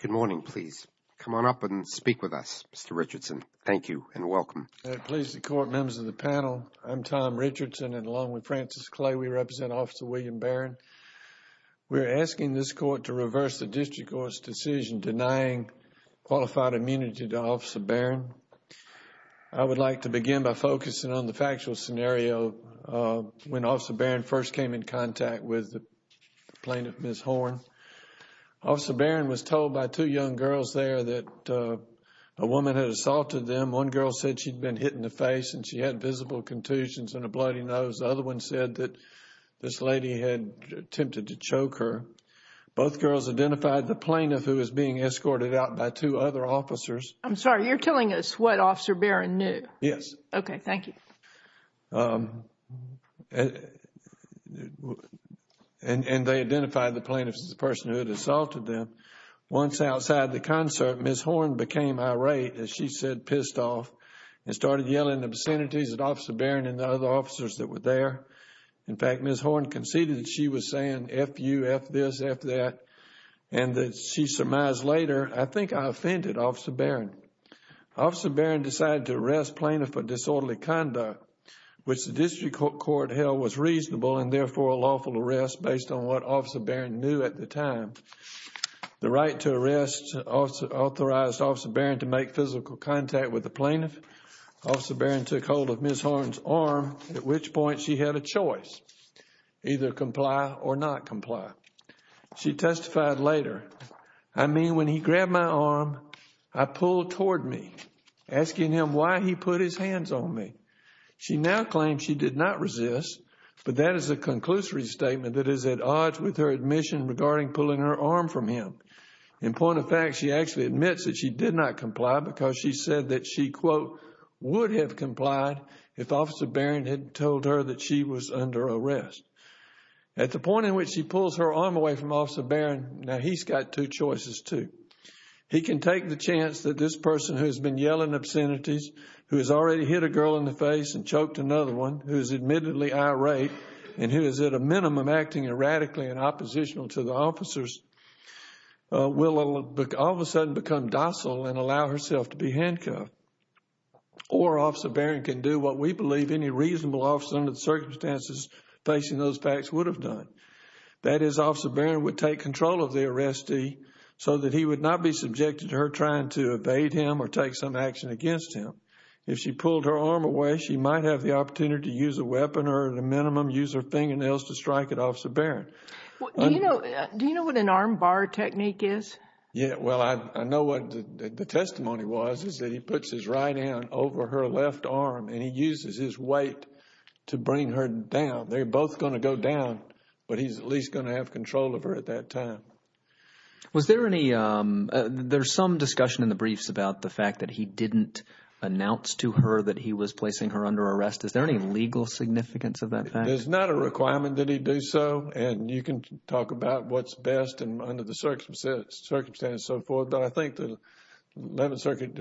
Good morning, please. Come on up and speak with us, Mr. Richardson. Thank you and welcome. Tom Richardson Please, the court members of the panel, I'm Tom Richardson and along with Frances Clay, we represent Officer William Barron. We're asking this court to reverse the district court's decision denying qualified immunity to Officer Barron. I would like to begin by focusing on the factual scenario when Officer Barron first came in contact with the plaintiff, Ms. Horn. Officer Barron was told by two young girls there that a woman had assaulted them. One girl said she'd been hit in the face and she had visible contusions and a bloody nose. The other one said that this lady had attempted to choke her. Both girls identified the plaintiff who was being escorted out by two other officers. I'm sorry, you're telling us what Officer Barron knew? Yes. Okay, thank you. And they identified the plaintiff as the person who had assaulted them. Once outside the concert, Ms. Horn became irate, as she said, pissed off and started yelling obscenities at Officer Barron and the other officers that were there. In fact, Ms. Horn conceded that she was saying F-you, F-this, F-that and that she surmised later, I think I offended Officer Barron. Officer Barron decided to arrest plaintiff for disorderly conduct, which the district court held was reasonable and therefore a lawful arrest based on what Officer Barron knew at the time. The right to arrest authorized Officer Barron to make physical contact with the plaintiff. Officer Barron took hold of Ms. Horn's arm, at which point she had a choice, either comply or not comply. She testified later, I mean, when he grabbed my arm, I pulled toward me, asking him why he put his hands on me. She now claims she did not resist, but that is a conclusory statement that is at odds with her admission regarding pulling her arm from him. In point of fact, she actually admits that she did not comply because she said that she quote, would have complied if Officer Barron had told her that she was under arrest. At the point at which she pulls her arm away from Officer Barron, now he's got two choices too. He can take the chance that this person who has been yelling obscenities, who has already hit a girl in the face and choked another one, who is admittedly irate and who is at a minimum acting erratically and oppositional to the officers, will all of a sudden become docile and allow herself to be handcuffed. Or Officer Barron can do what we believe any reasonable officer under the circumstances facing those facts would have done. That is, Officer Barron would take control of the arrestee so that he would not be subjected to her trying to evade him or take some action against him. If she pulled her arm away, she might have the opportunity to use a weapon or at a minimum use her fingernails to strike at Officer Barron. Do you know what an arm bar technique is? Yeah, well, I know what the testimony was, is that he puts his right hand over her left arm and he uses his weight to bring her down. They're both going to go down, but he's at least going to have control of her at that time. Was there any, there's some discussion in the briefs about the fact that he didn't announce to her that he was placing her under arrest. Is there any legal significance of that fact? There's not a requirement that he do so, and you can talk about what's best and under the circumstances so forth, but I think the Eleventh Circuit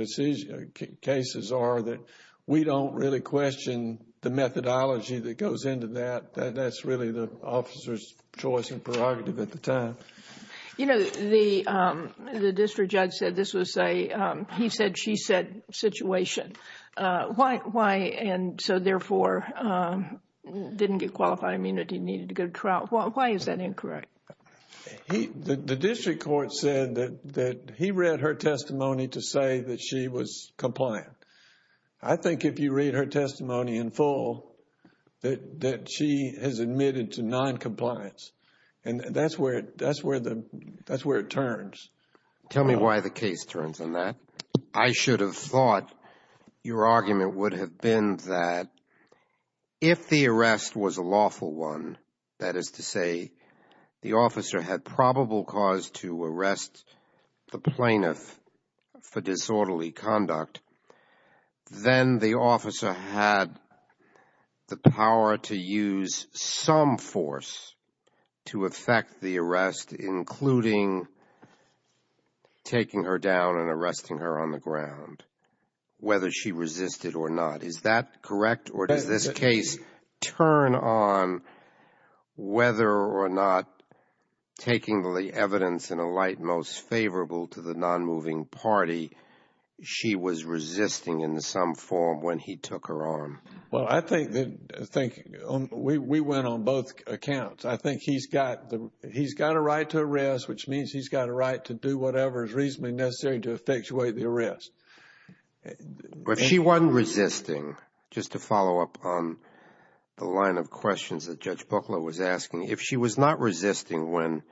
cases are that we don't really question the methodology that goes into that. That's really the officer's choice and prerogative at the time. You know, the district judge said this was a he said, she said situation. Why and so therefore, didn't get qualified immunity, needed to go to trial? Why is that incorrect? The district court said that he read her testimony to say that she was compliant. I think if you read her testimony in full, that she has admitted to noncompliance. And that's where it turns. Tell me why the case turns on that. I should have thought your argument would have been that if the arrest was a lawful one, that is to say, the officer had probable cause to arrest the plaintiff for disorderly conduct, then the officer had the power to use some force to affect the arrest, including taking her down and arresting her on the ground, whether she resisted or not. Is that correct? Or does this case turn on whether or not taking the evidence in a light most favorable to the nonmoving party, she was resisting in some form when he took her on? Well, I think we went on both accounts. I think he's got the he's got a right to arrest, which means he's got a right to do whatever is reasonably necessary to effectuate the arrest. But if she wasn't resisting, just to follow up on the line of questions that Judge Bukla was asking, if she was not resisting when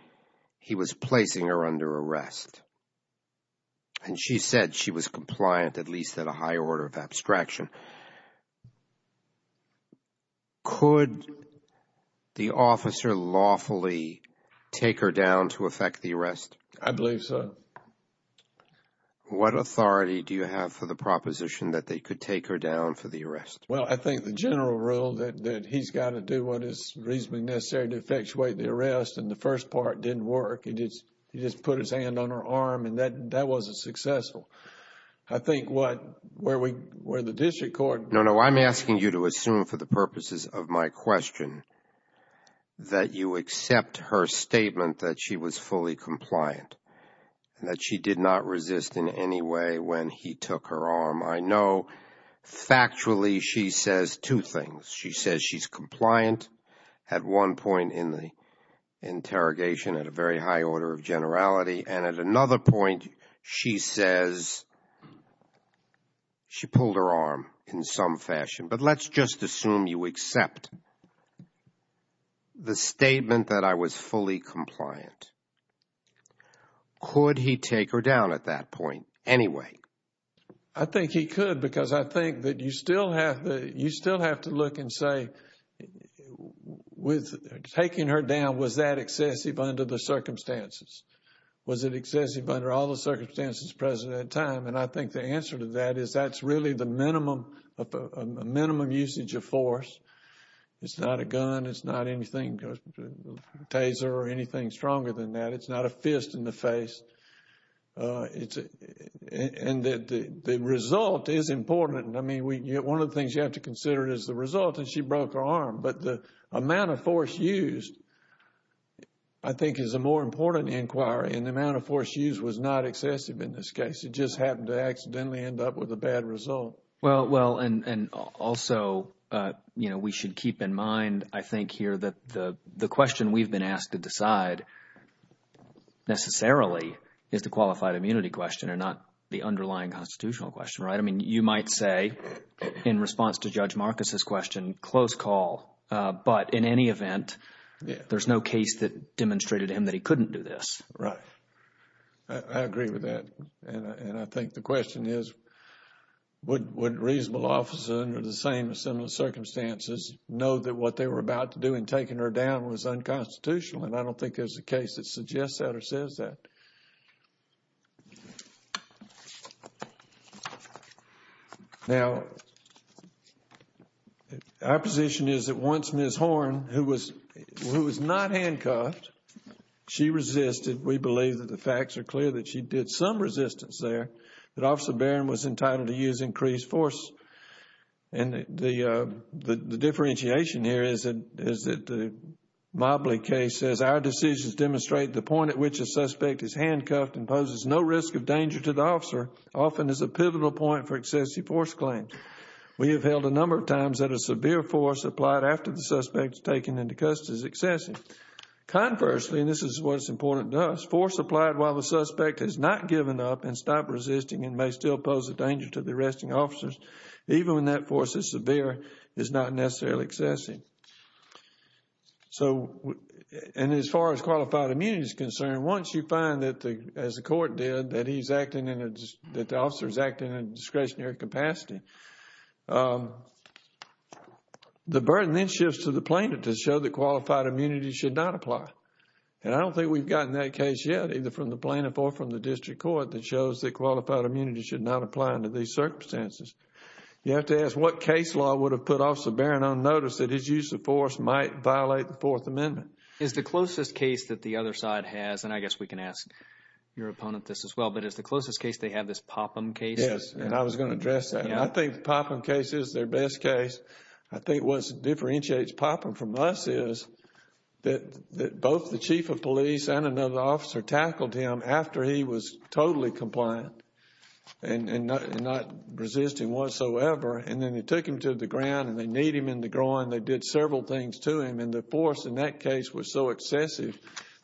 he was placing her under arrest, and she said she was compliant, at least at a higher order of abstraction, could the officer lawfully take her down to effect the arrest? I believe so. What authority do you have for the proposition that they could take her down for the arrest? Well, I think the general rule that he's got to do what is reasonably necessary to effectuate the arrest, and the first part didn't work. He just put his hand on her arm, and that wasn't successful. I think what, where the district court... No, no, I'm asking you to assume for the purposes of my question that you accept her statement that she was fully compliant, and that she did not resist in any way when he took her arm. I know factually she says two things. She says she's compliant at one point in the interrogation at a very high order of generality, and at another point she says she pulled her arm in some fashion. But let's just assume you accept the statement that I was fully compliant. Could he take her down at that point anyway? I think he could, because I think that you still have to look and say, with taking her down, was that excessive under the circumstances? Was it excessive under all the circumstances present at the time? And I think the answer to that is that's really the minimum usage of force. It's not a gun. It's not anything, a taser or anything stronger than that. It's not a fist in the face. And the result is important. I mean, one of the things you have to consider is the result, and she broke her arm. But the amount of force used I think is a more important inquiry, and the amount of force used was not excessive in this case. It just happened to accidentally end up with a bad result. Well, and also, you know, we should keep in mind, I think here, that the question we've been asked to decide necessarily is the qualified immunity question and not the underlying constitutional question, right? I mean, you might say in response to Judge Marcus's question, close call. But in any event, there's no case that demonstrated to him that he couldn't do this. Right. I agree with that. And I think the question is, would a reasonable officer under the same or similar circumstances know that what they were about to do in taking her down was unconstitutional? And I don't think there's a case that suggests that or says that. Now, our position is that once Ms. Horn, who was not handcuffed, she resisted. We believe that the facts are clear that she did some resistance there, that Officer Barron was entitled to use increased force. And the differentiation here is that the Mobley case says, our decisions demonstrate the point at which a suspect is handcuffed and poses no risk of danger to the officer, often as a pivotal point for excessive force claims. We have held a number of times that a severe force applied after the suspect is taken into custody is excessive. Conversely, and this is what's important to us, force applied while the suspect has not given up and stopped resisting and may still pose a danger to the arresting officers, even when that force is severe, is not necessarily excessive. So and as far as qualified immunity is concerned, once you find that, as the court did, that he's acting in a, that the officer is acting in a discretionary capacity, the burden then shifts to the plaintiff to show that qualified immunity should not apply. And I don't think we've gotten that case yet, either from the plaintiff or from the district court, that shows that qualified immunity should not apply under these circumstances. You have to ask what case law would have put Officer Barron on notice that his use of force might violate the Fourth Amendment? Is the closest case that the other side has, and I guess we can ask your opponent this as well, but is the closest case they have this Popham case? Yes, and I was going to address that. I think the Popham case is their best case. I think what differentiates Popham from us is that both the chief of police and another officer tackled him after he was totally compliant and not resisting whatsoever. And then they took him to the ground, and they kneed him in the groin, they did several things to him. And the force in that case was so excessive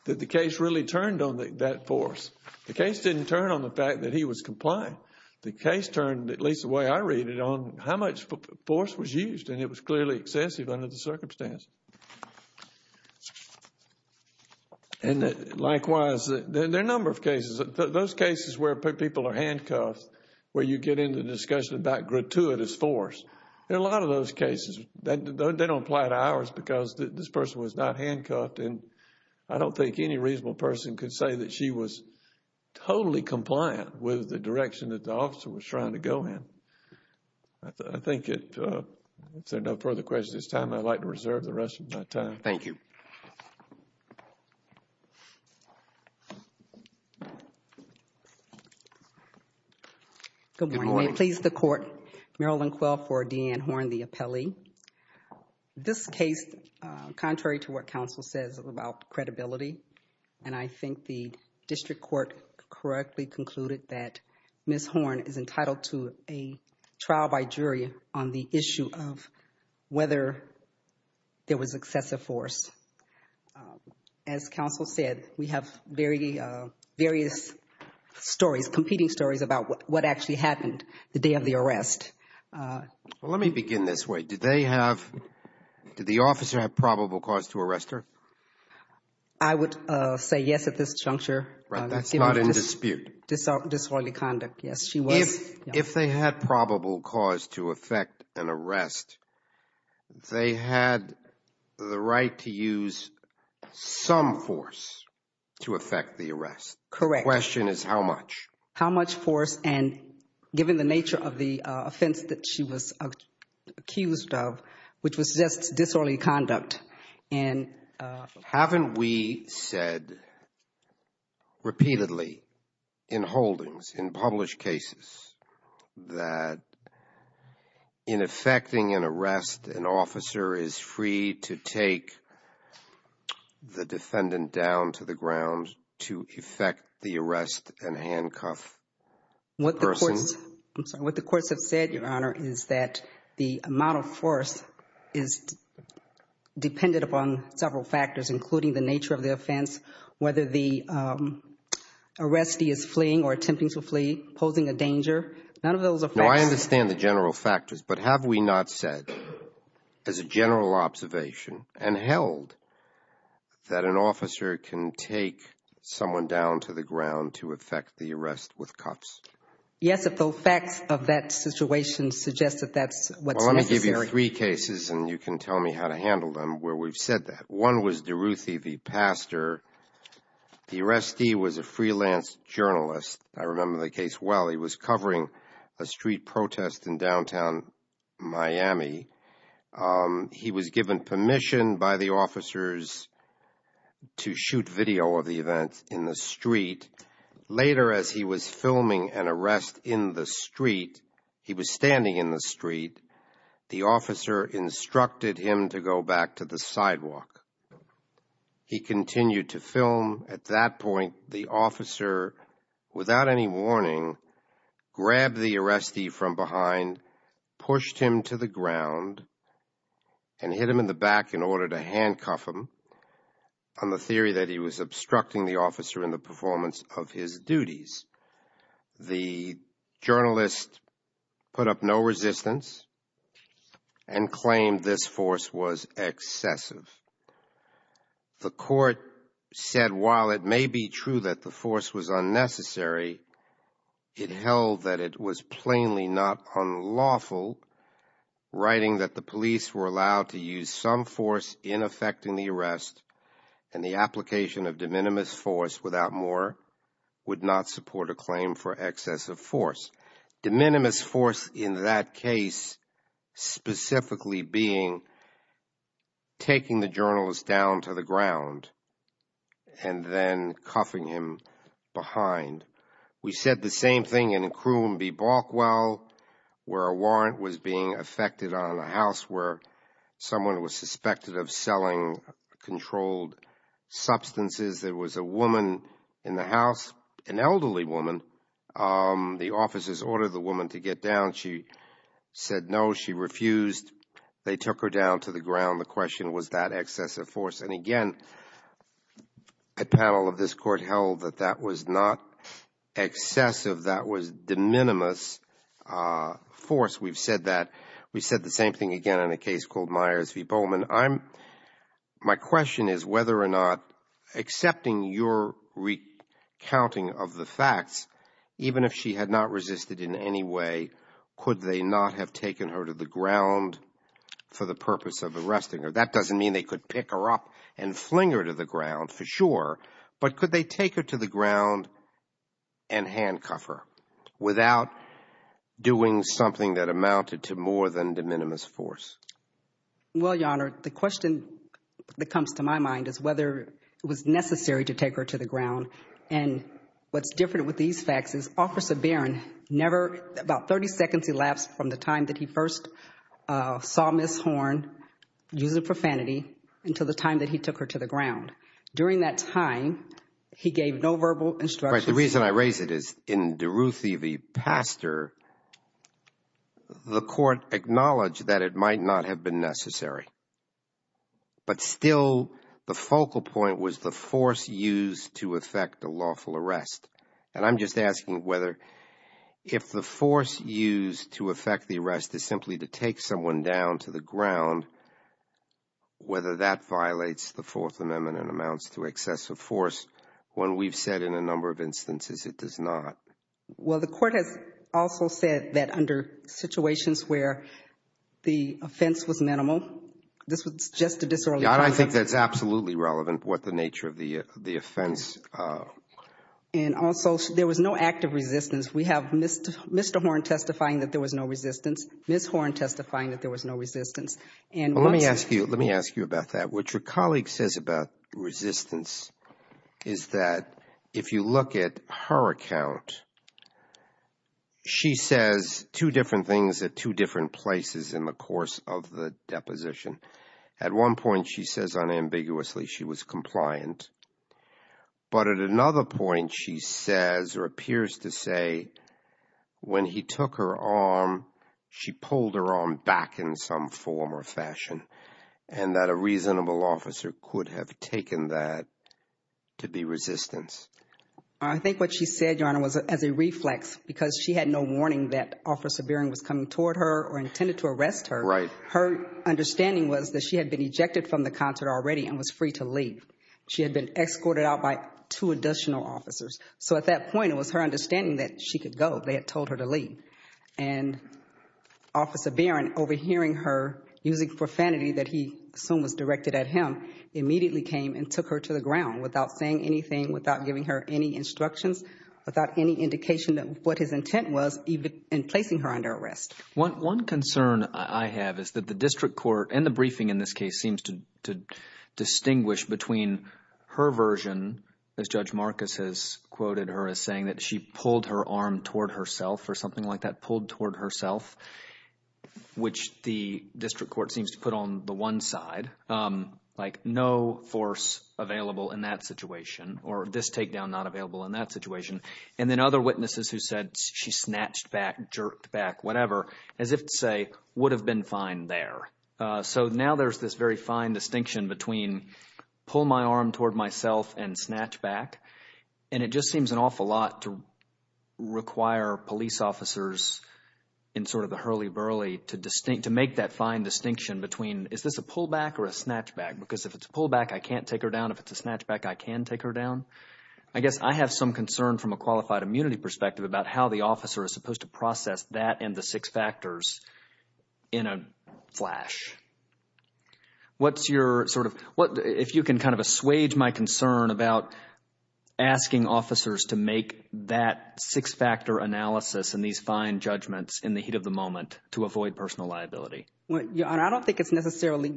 that the case really turned on that force. The case didn't turn on the fact that he was compliant. The case turned, at least the way I read it, on how much force was used, and it was clearly excessive under the circumstance. And likewise, there are a number of cases. Those cases where people are handcuffed, where you get into discussion about gratuitous force, there are a lot of those cases that don't apply to ours because this person was not handcuffed and I don't think any reasonable person could say that she was totally compliant with the direction that the officer was trying to go in. I think if there are no further questions at this time, I'd like to reserve the rest of my time. Thank you. Good morning. May it please the court, Marilyn Quill for Deanne Horn, the appellee. This case, contrary to what counsel says, is about credibility, and I think the district court correctly concluded that Ms. Horn is entitled to a trial by jury on the issue of whether there was excessive force. As counsel said, we have various stories, competing stories about what actually happened the day of the arrest. Let me begin this way. Did they have, did the officer have probable cause to arrest her? I would say yes at this juncture. Right, that's not in dispute. Disorderly conduct, yes, she was. If they had probable cause to effect an arrest, they had the right to use some force to effect the arrest. Correct. The question is how much? How much force, and given the nature of the offense that she was accused of, which was just disorderly conduct. Haven't we said repeatedly in holdings, in published cases, that in effecting an arrest, an officer is free to take the defendant down to the ground to effect the arrest and handcuff the person? I'm sorry. What the courts have said, Your Honor, is that the amount of force is dependent upon several factors, including the nature of the offense, whether the arrestee is fleeing or attempting to flee, posing a danger, none of those effects. No, I understand the general factors, but have we not said, as a general observation and held, that an officer can take someone down to the ground to effect the arrest with cuffs? Yes, if the effects of that situation suggest that that's what's necessary. Well, let me give you three cases, and you can tell me how to handle them, where we've said that. One was Duruthi, the pastor. The arrestee was a freelance journalist. I remember the case well. He was covering a street protest in downtown Miami. He was given permission by the officers to shoot video of the event in the street. Later, as he was filming an arrest in the street, he was standing in the street. The officer instructed him to go back to the sidewalk. He continued to film. At that point, the officer, without any warning, grabbed the arrestee from behind, pushed him to the ground, and hit him in the back in order to handcuff him, on the theory that he was obstructing the officer in the performance of his duties. The journalist put up no resistance and claimed this force was excessive. The court said, while it may be true that the force was unnecessary, it held that it was plainly not unlawful, writing that the police were allowed to use some force in effecting the arrest, and the application of de minimis force, without more, would not support a claim for excessive force. De minimis force in that case specifically being taking the journalist down to the ground and then cuffing him behind. We said the same thing in Akrum v. Balkwell, where a warrant was being effected on a house where someone was suspected of selling controlled substances. There was a woman in the house, an elderly woman. The officers ordered the woman to get down. She said no. She refused. They took her down to the ground. The question was, was that excessive force? And again, a panel of this court held that that was not excessive. That was de minimis force. We've said that. We said the same thing again in a case called Myers v. Bowman. My question is whether or not, accepting your recounting of the facts, even if she had not resisted in any way, could they not have taken her to the ground for the purpose of arresting her? That doesn't mean they could pick her up and fling her to the ground, for sure, but could they take her to the ground and handcuff her without doing something that amounted to more than de minimis force? Well, Your Honor, the question that comes to my mind is whether it was necessary to take her to the ground. And what's different with these facts is Officer Barron never, about 30 seconds elapsed from the time that he first saw Ms. Horn, using profanity, until the time that he took her to the ground. During that time, he gave no verbal instructions. Right. The reason I raise it is, in Duruthi v. Pastor, the Court acknowledged that it might not have been necessary. But still, the focal point was the force used to effect a lawful arrest. And I'm just asking whether, if the force used to effect the arrest is simply to take someone down to the ground, whether that violates the Fourth Amendment and amounts to excessive force, when we've said in a number of instances it does not. Well, the Court has also said that under situations where the offense was minimal, this was just a disorderly process. Your Honor, I think that's absolutely relevant, what the nature of the offense. And also, there was no act of resistance. We have Mr. Horn testifying that there was no resistance, Ms. Horn testifying that there was no resistance. Well, let me ask you about that. What your colleague says about resistance is that, if you look at her account, she says two different things at two different places in the course of the deposition. At one point, she says unambiguously she was compliant. But at another point, she says or appears to say when he took her arm, she pulled her arm back in some form or fashion, and that a reasonable officer could have taken that to be resistance. I think what she said, Your Honor, was as a reflex, because she had no warning that Officer Beering was coming toward her or intended to arrest her. Her understanding was that she had been ejected from the concert already and was free to leave. She had been escorted out by two additional officers. So at that point, it was her understanding that she could go, they had told her to leave. And Officer Beering, overhearing her, using profanity that he assumed was directed at him, immediately came and took her to the ground without saying anything, without giving her any instructions, without any indication of what his intent was in placing her under arrest. One concern I have is that the district court and the briefing in this case seems to distinguish between her version, as Judge Marcus has quoted her as saying, that she pulled her arm toward herself or something like that, pulled toward herself, which the district court seems to put on the one side, like no force available in that situation or this takedown not available in that situation, and then other witnesses who said she snatched back, jerked back, whatever, as if to say would have been fine there. So now there's this very fine distinction between pull my arm toward myself and snatch back, and it just seems an awful lot to require police officers in sort of the hurly-burly to make that fine distinction between is this a pull back or a snatch back? Because if it's a pull back, I can't take her down, if it's a snatch back, I can take her down. I guess I have some concern from a qualified immunity perspective about how the officer is supposed to process that and the six factors in a flash. What's your sort of, if you can kind of assuage my concern about asking officers to make that six-factor analysis and these fine judgments in the heat of the moment to avoid personal liability? Your Honor, I don't think it's necessarily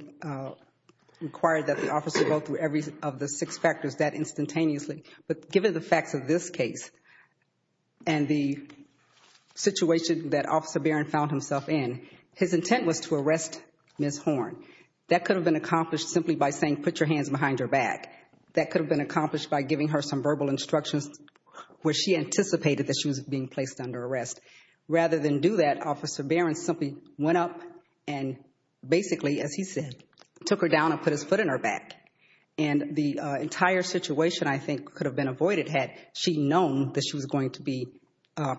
required that the officer go through every of the six factors that instantaneously, but given the facts of this case and the situation that Officer Barron found himself in, his intent was to arrest Ms. Horn. That could have been accomplished simply by saying put your hands behind her back. That could have been accomplished by giving her some verbal instructions where she anticipated that she was being placed under arrest. Rather than do that, Officer Barron simply went up and basically, as he said, took her down and put his foot in her back. And the entire situation, I think, could have been avoided had she known that she was going to be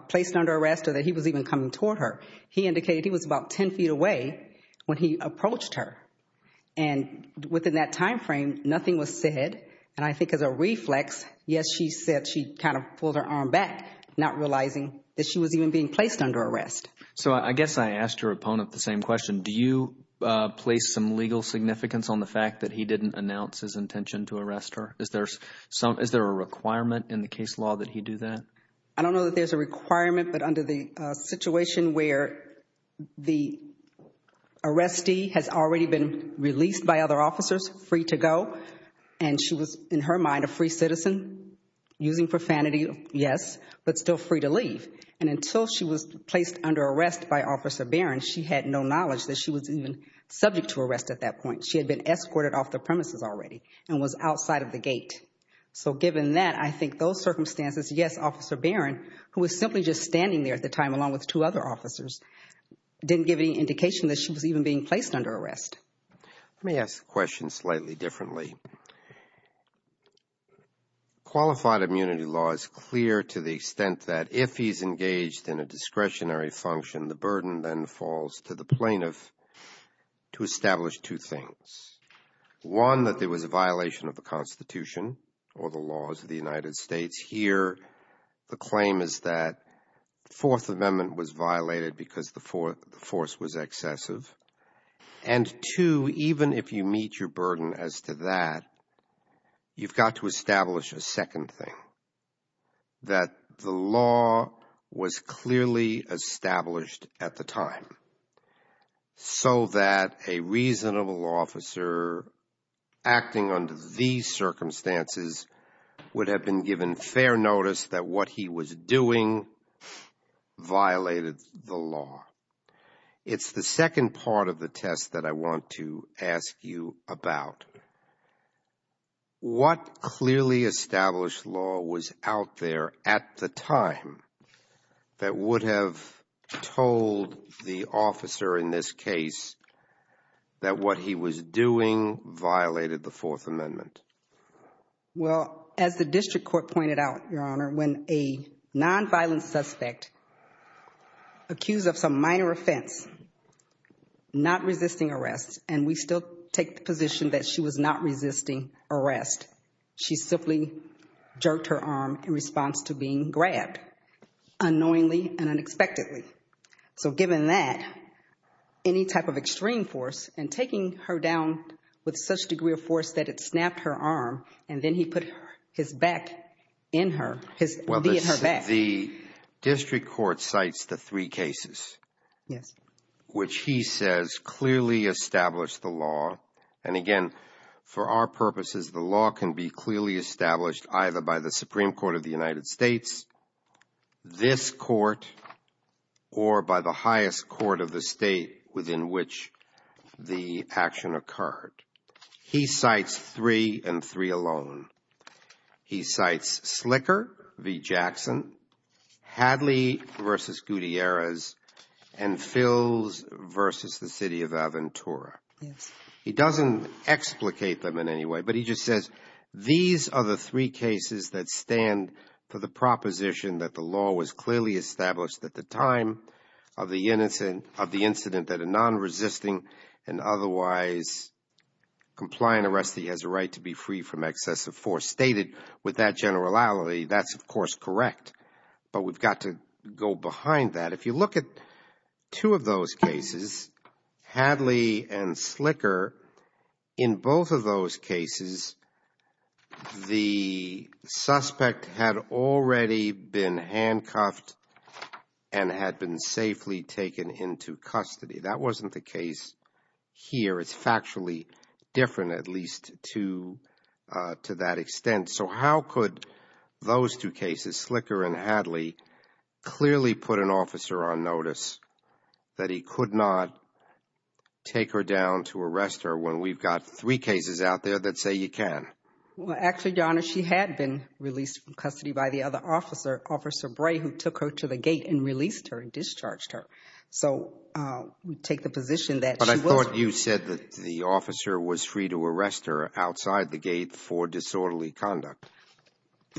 placed under arrest or that he was even coming toward her. He indicated he was about ten feet away when he approached her. And within that time frame, nothing was said, and I think as a reflex, yes, she said she kind of pulled her arm back, not realizing that she was even being placed under arrest. So I guess I asked your opponent the same question. Do you place some legal significance on the fact that he didn't announce his intention to arrest her? Is there a requirement in the case law that he do that? I don't know that there's a requirement, but under the situation where the arrestee has already been released by other officers, free to go, and she was, in her mind, a free citizen using profanity, yes, but still free to leave. And until she was placed under arrest by Officer Barron, she had no knowledge that she was even subject to arrest at that point. She had been escorted off the premises already and was outside of the gate. So given that, I think those circumstances, yes, Officer Barron, who was simply just standing there at the time along with two other officers, didn't give any indication that she was even being placed under arrest. Let me ask the question slightly differently. Qualified immunity law is clear to the extent that if he's engaged in a discretionary function, the burden then falls to the plaintiff to establish two things. One that there was a violation of the Constitution or the laws of the United States. Here the claim is that the Fourth Amendment was violated because the force was excessive. And two, even if you meet your burden as to that, you've got to establish a second thing, that the law was clearly established at the time so that a reasonable officer acting under these circumstances would have been given fair notice that what he was doing violated the law. It's the second part of the test that I want to ask you about. What clearly established law was out there at the time that would have told the officer in this case that what he was doing violated the Fourth Amendment? Well, as the district court pointed out, Your Honor, when a non-violent suspect accused of some minor offense, not resisting arrest, and we still take the position that she was not resisting arrest, she simply jerked her arm in response to being grabbed unknowingly and unexpectedly. So given that, any type of extreme force and taking her down with such degree of force that it snapped her arm and then he put his back in her, his knee in her back. The district court cites the three cases, which he says clearly established the law. And again, for our purposes, the law can be clearly established either by the Supreme Court of the United States, this court, or by the highest court of the state within which the action occurred. He cites three and three alone. He cites Slicker v. Jackson, Hadley v. Gutierrez, and Philz v. the City of Aventura. He doesn't explicate them in any way, but he just says these are the three cases that stand for the proposition that the law was clearly established at the time of the incident that a non-resisting and otherwise compliant arrestee has a right to be free from excessive force. Stated with that generality, that's of course correct, but we've got to go behind that. If you look at two of those cases, Hadley and Slicker, in both of those cases, the suspect had already been handcuffed and had been safely taken into custody. That wasn't the case here. It's factually different, at least to that extent. How could those two cases, Slicker and Hadley, clearly put an officer on notice that he could not take her down to arrest her when we've got three cases out there that say you can? Well, actually, Your Honor, she had been released from custody by the other officer, Officer Bray, who took her to the gate and released her and discharged her, so we take the position that she wasn't. I thought you said that the officer was free to arrest her outside the gate for disorderly conduct.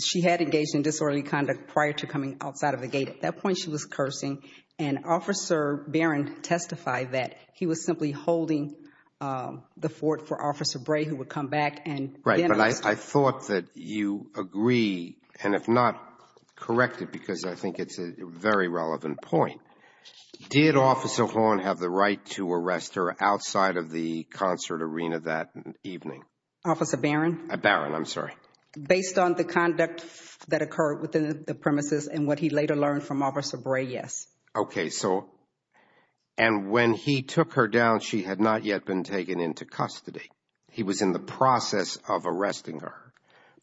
She had engaged in disorderly conduct prior to coming outside of the gate. At that point, she was cursing, and Officer Barron testified that he was simply holding the fort for Officer Bray, who would come back and then arrest her. Right, but I thought that you agree, and if not, correct it, because I think it's a very relevant point. Did Officer Horn have the right to arrest her outside of the concert arena that evening? Officer Barron? Barron, I'm sorry. Based on the conduct that occurred within the premises and what he later learned from Officer Bray, yes. Okay, and when he took her down, she had not yet been taken into custody. He was in the process of arresting her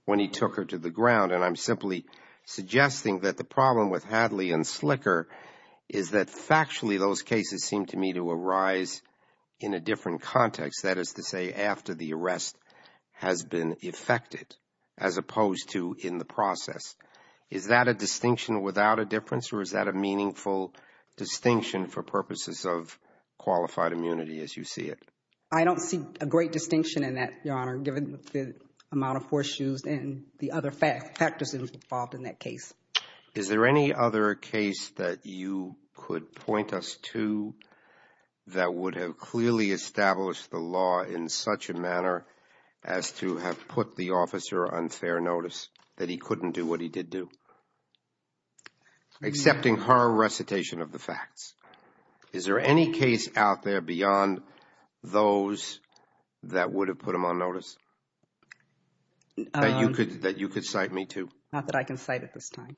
when he took her to the ground, and I'm simply suggesting that the problem with Hadley and Slicker is that factually, those cases seem to me to arise in a different context, that is to say after the arrest has been effected, as opposed to in the process. Is that a distinction without a difference, or is that a meaningful distinction for purposes of qualified immunity as you see it? I don't see a great distinction in that, Your Honor, given the amount of horseshoes and the other factors involved in that case. Is there any other case that you could point us to that would have clearly established the law in such a manner as to have put the officer on fair notice, that he couldn't do what he did do, except in her recitation of the facts? Is there any case out there beyond those that would have put him on notice that you could cite me to? Not that I can cite at this time.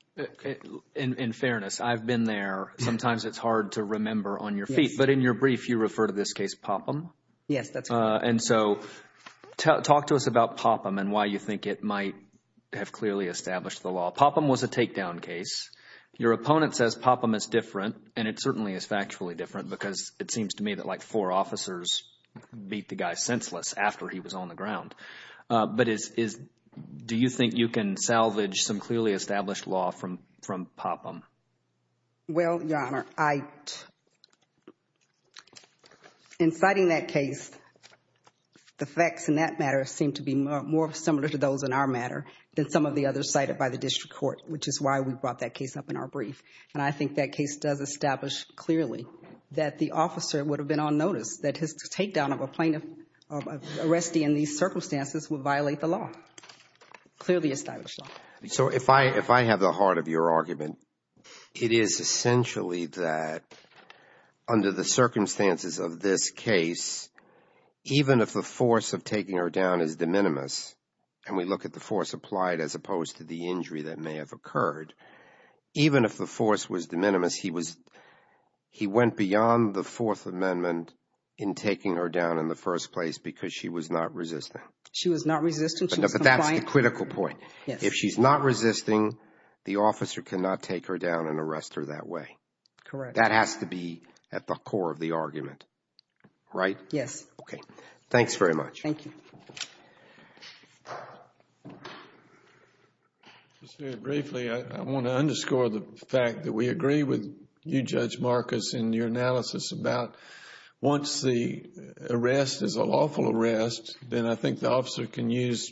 In fairness, I've been there. Sometimes it's hard to remember on your feet, but in your brief, you refer to this case Popham. Yes, that's correct. And so talk to us about Popham and why you think it might have clearly established the law. Popham was a takedown case. Your opponent says Popham is different, and it certainly is factually different because it seems to me that like four officers beat the guy senseless after he was on the ground. But do you think you can salvage some clearly established law from Popham? Well, Your Honor, in citing that case, the facts in that matter seem to be more similar to those in our matter than some of the others cited by the district court, which is why we brought that case up in our brief. And I think that case does establish clearly that the officer would have been on notice that his takedown of a plaintiff, of arrestee in these circumstances would violate the law. Clearly established law. So if I have the heart of your argument, it is essentially that under the circumstances of this case, even if the force of taking her down is de minimis, and we look at the force applied as opposed to the injury that may have occurred, even if the force was de in taking her down in the first place because she was not resistant. She was not resistant. She was compliant. But that's the critical point. If she's not resisting, the officer cannot take her down and arrest her that way. Correct. That has to be at the core of the argument, right? Yes. Okay. Thanks very much. Thank you. Just very briefly, I want to underscore the fact that we agree with you, Judge Marcus, in your analysis about once the arrest is a lawful arrest, then I think the officer can use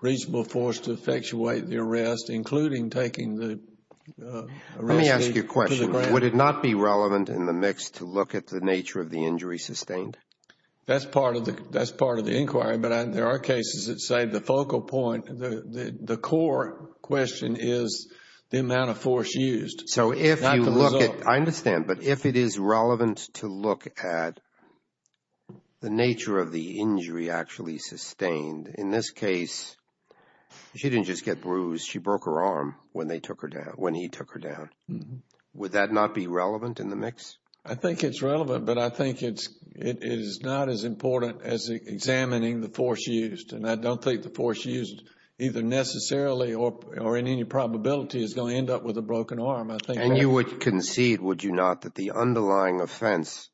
reasonable force to effectuate the arrest, including taking the arrestee to the ground. Let me ask you a question. Would it not be relevant in the mix to look at the nature of the injury sustained? That's part of the inquiry, but there are cases that say the focal point, the core question is the amount of force used. So if you look at... Not the result. I understand, but if it is relevant to look at the nature of the injury actually sustained, in this case, she didn't just get bruised. She broke her arm when they took her down, when he took her down. Would that not be relevant in the mix? I think it's relevant, but I think it is not as important as examining the force used. And I don't think the force used, either necessarily or in any probability, is going to end up with a broken arm. And you would concede, would you not, that the underlying offense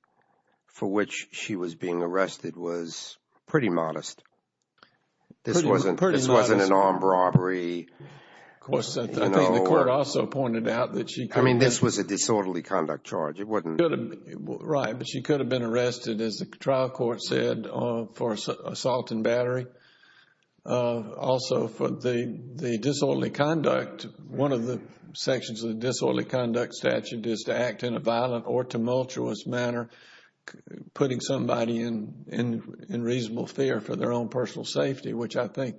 for which she was being arrested was pretty modest? This wasn't an armed robbery. Of course, I think the court also pointed out that she... I mean, this was a disorderly conduct charge. It wasn't... Right. But she could have been arrested, as the trial court said, for assault and battery. Also, for the disorderly conduct, one of the sections of the disorderly conduct statute is to act in a violent or tumultuous manner, putting somebody in reasonable fear for their own personal safety, which I think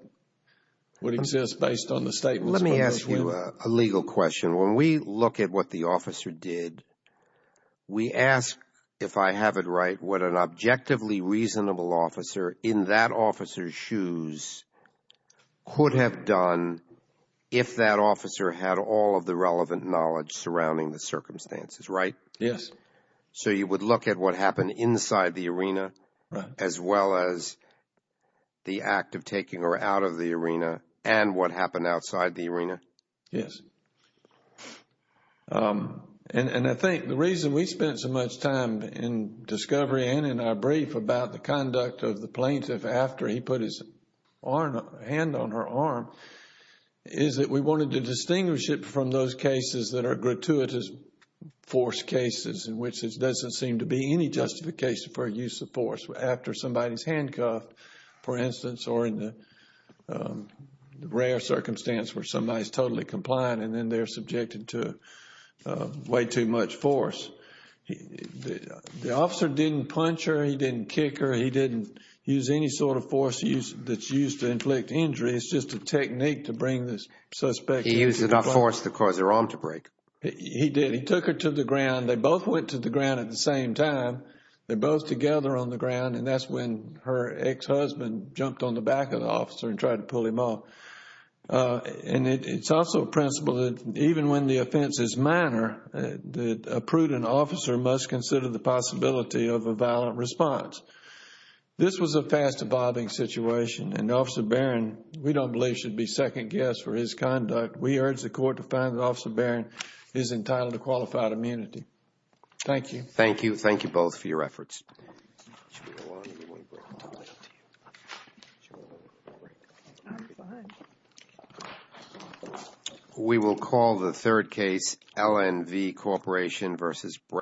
would exist based on the statements... Let me ask you a legal question. When we look at what the officer did, we ask, if I have it right, what an objectively reasonable officer in that officer's shoes could have done if that officer had all of the relevant knowledge surrounding the circumstances, right? Yes. So you would look at what happened inside the arena... Right.... as well as the act of taking her out of the arena and what happened outside the arena? Yes. And I think the reason we spent so much time in discovery and in our brief about the conduct of the plaintiff after he put his hand on her arm is that we wanted to distinguish it from those cases that are gratuitous force cases in which there doesn't seem to be any justification for use of force after somebody is handcuffed, for instance, or in the rare circumstance where somebody is totally compliant and then they're subjected to way too much force. The officer didn't punch her. He didn't kick her. He didn't use any sort of force that's used to inflict injury. It's just a technique to bring the suspect... He used enough force to cause her arm to break. He did. He took her to the ground. They both went to the ground at the same time. They're both together on the ground and that's when her ex-husband jumped on the back of the officer and tried to pull him off. And it's also a principle that even when the offense is minor, that a prudent officer must consider the possibility of a violent response. This was a fast-evolving situation and Officer Barron, we don't believe, should be second guessed for his conduct. We urge the Court to find that Officer Barron is entitled to qualified immunity. Thank you. Thank you. Thank you both for your efforts. Should we go on or do you want to break? I'm fine. We will call the third case, LNV Corporation v. Brown.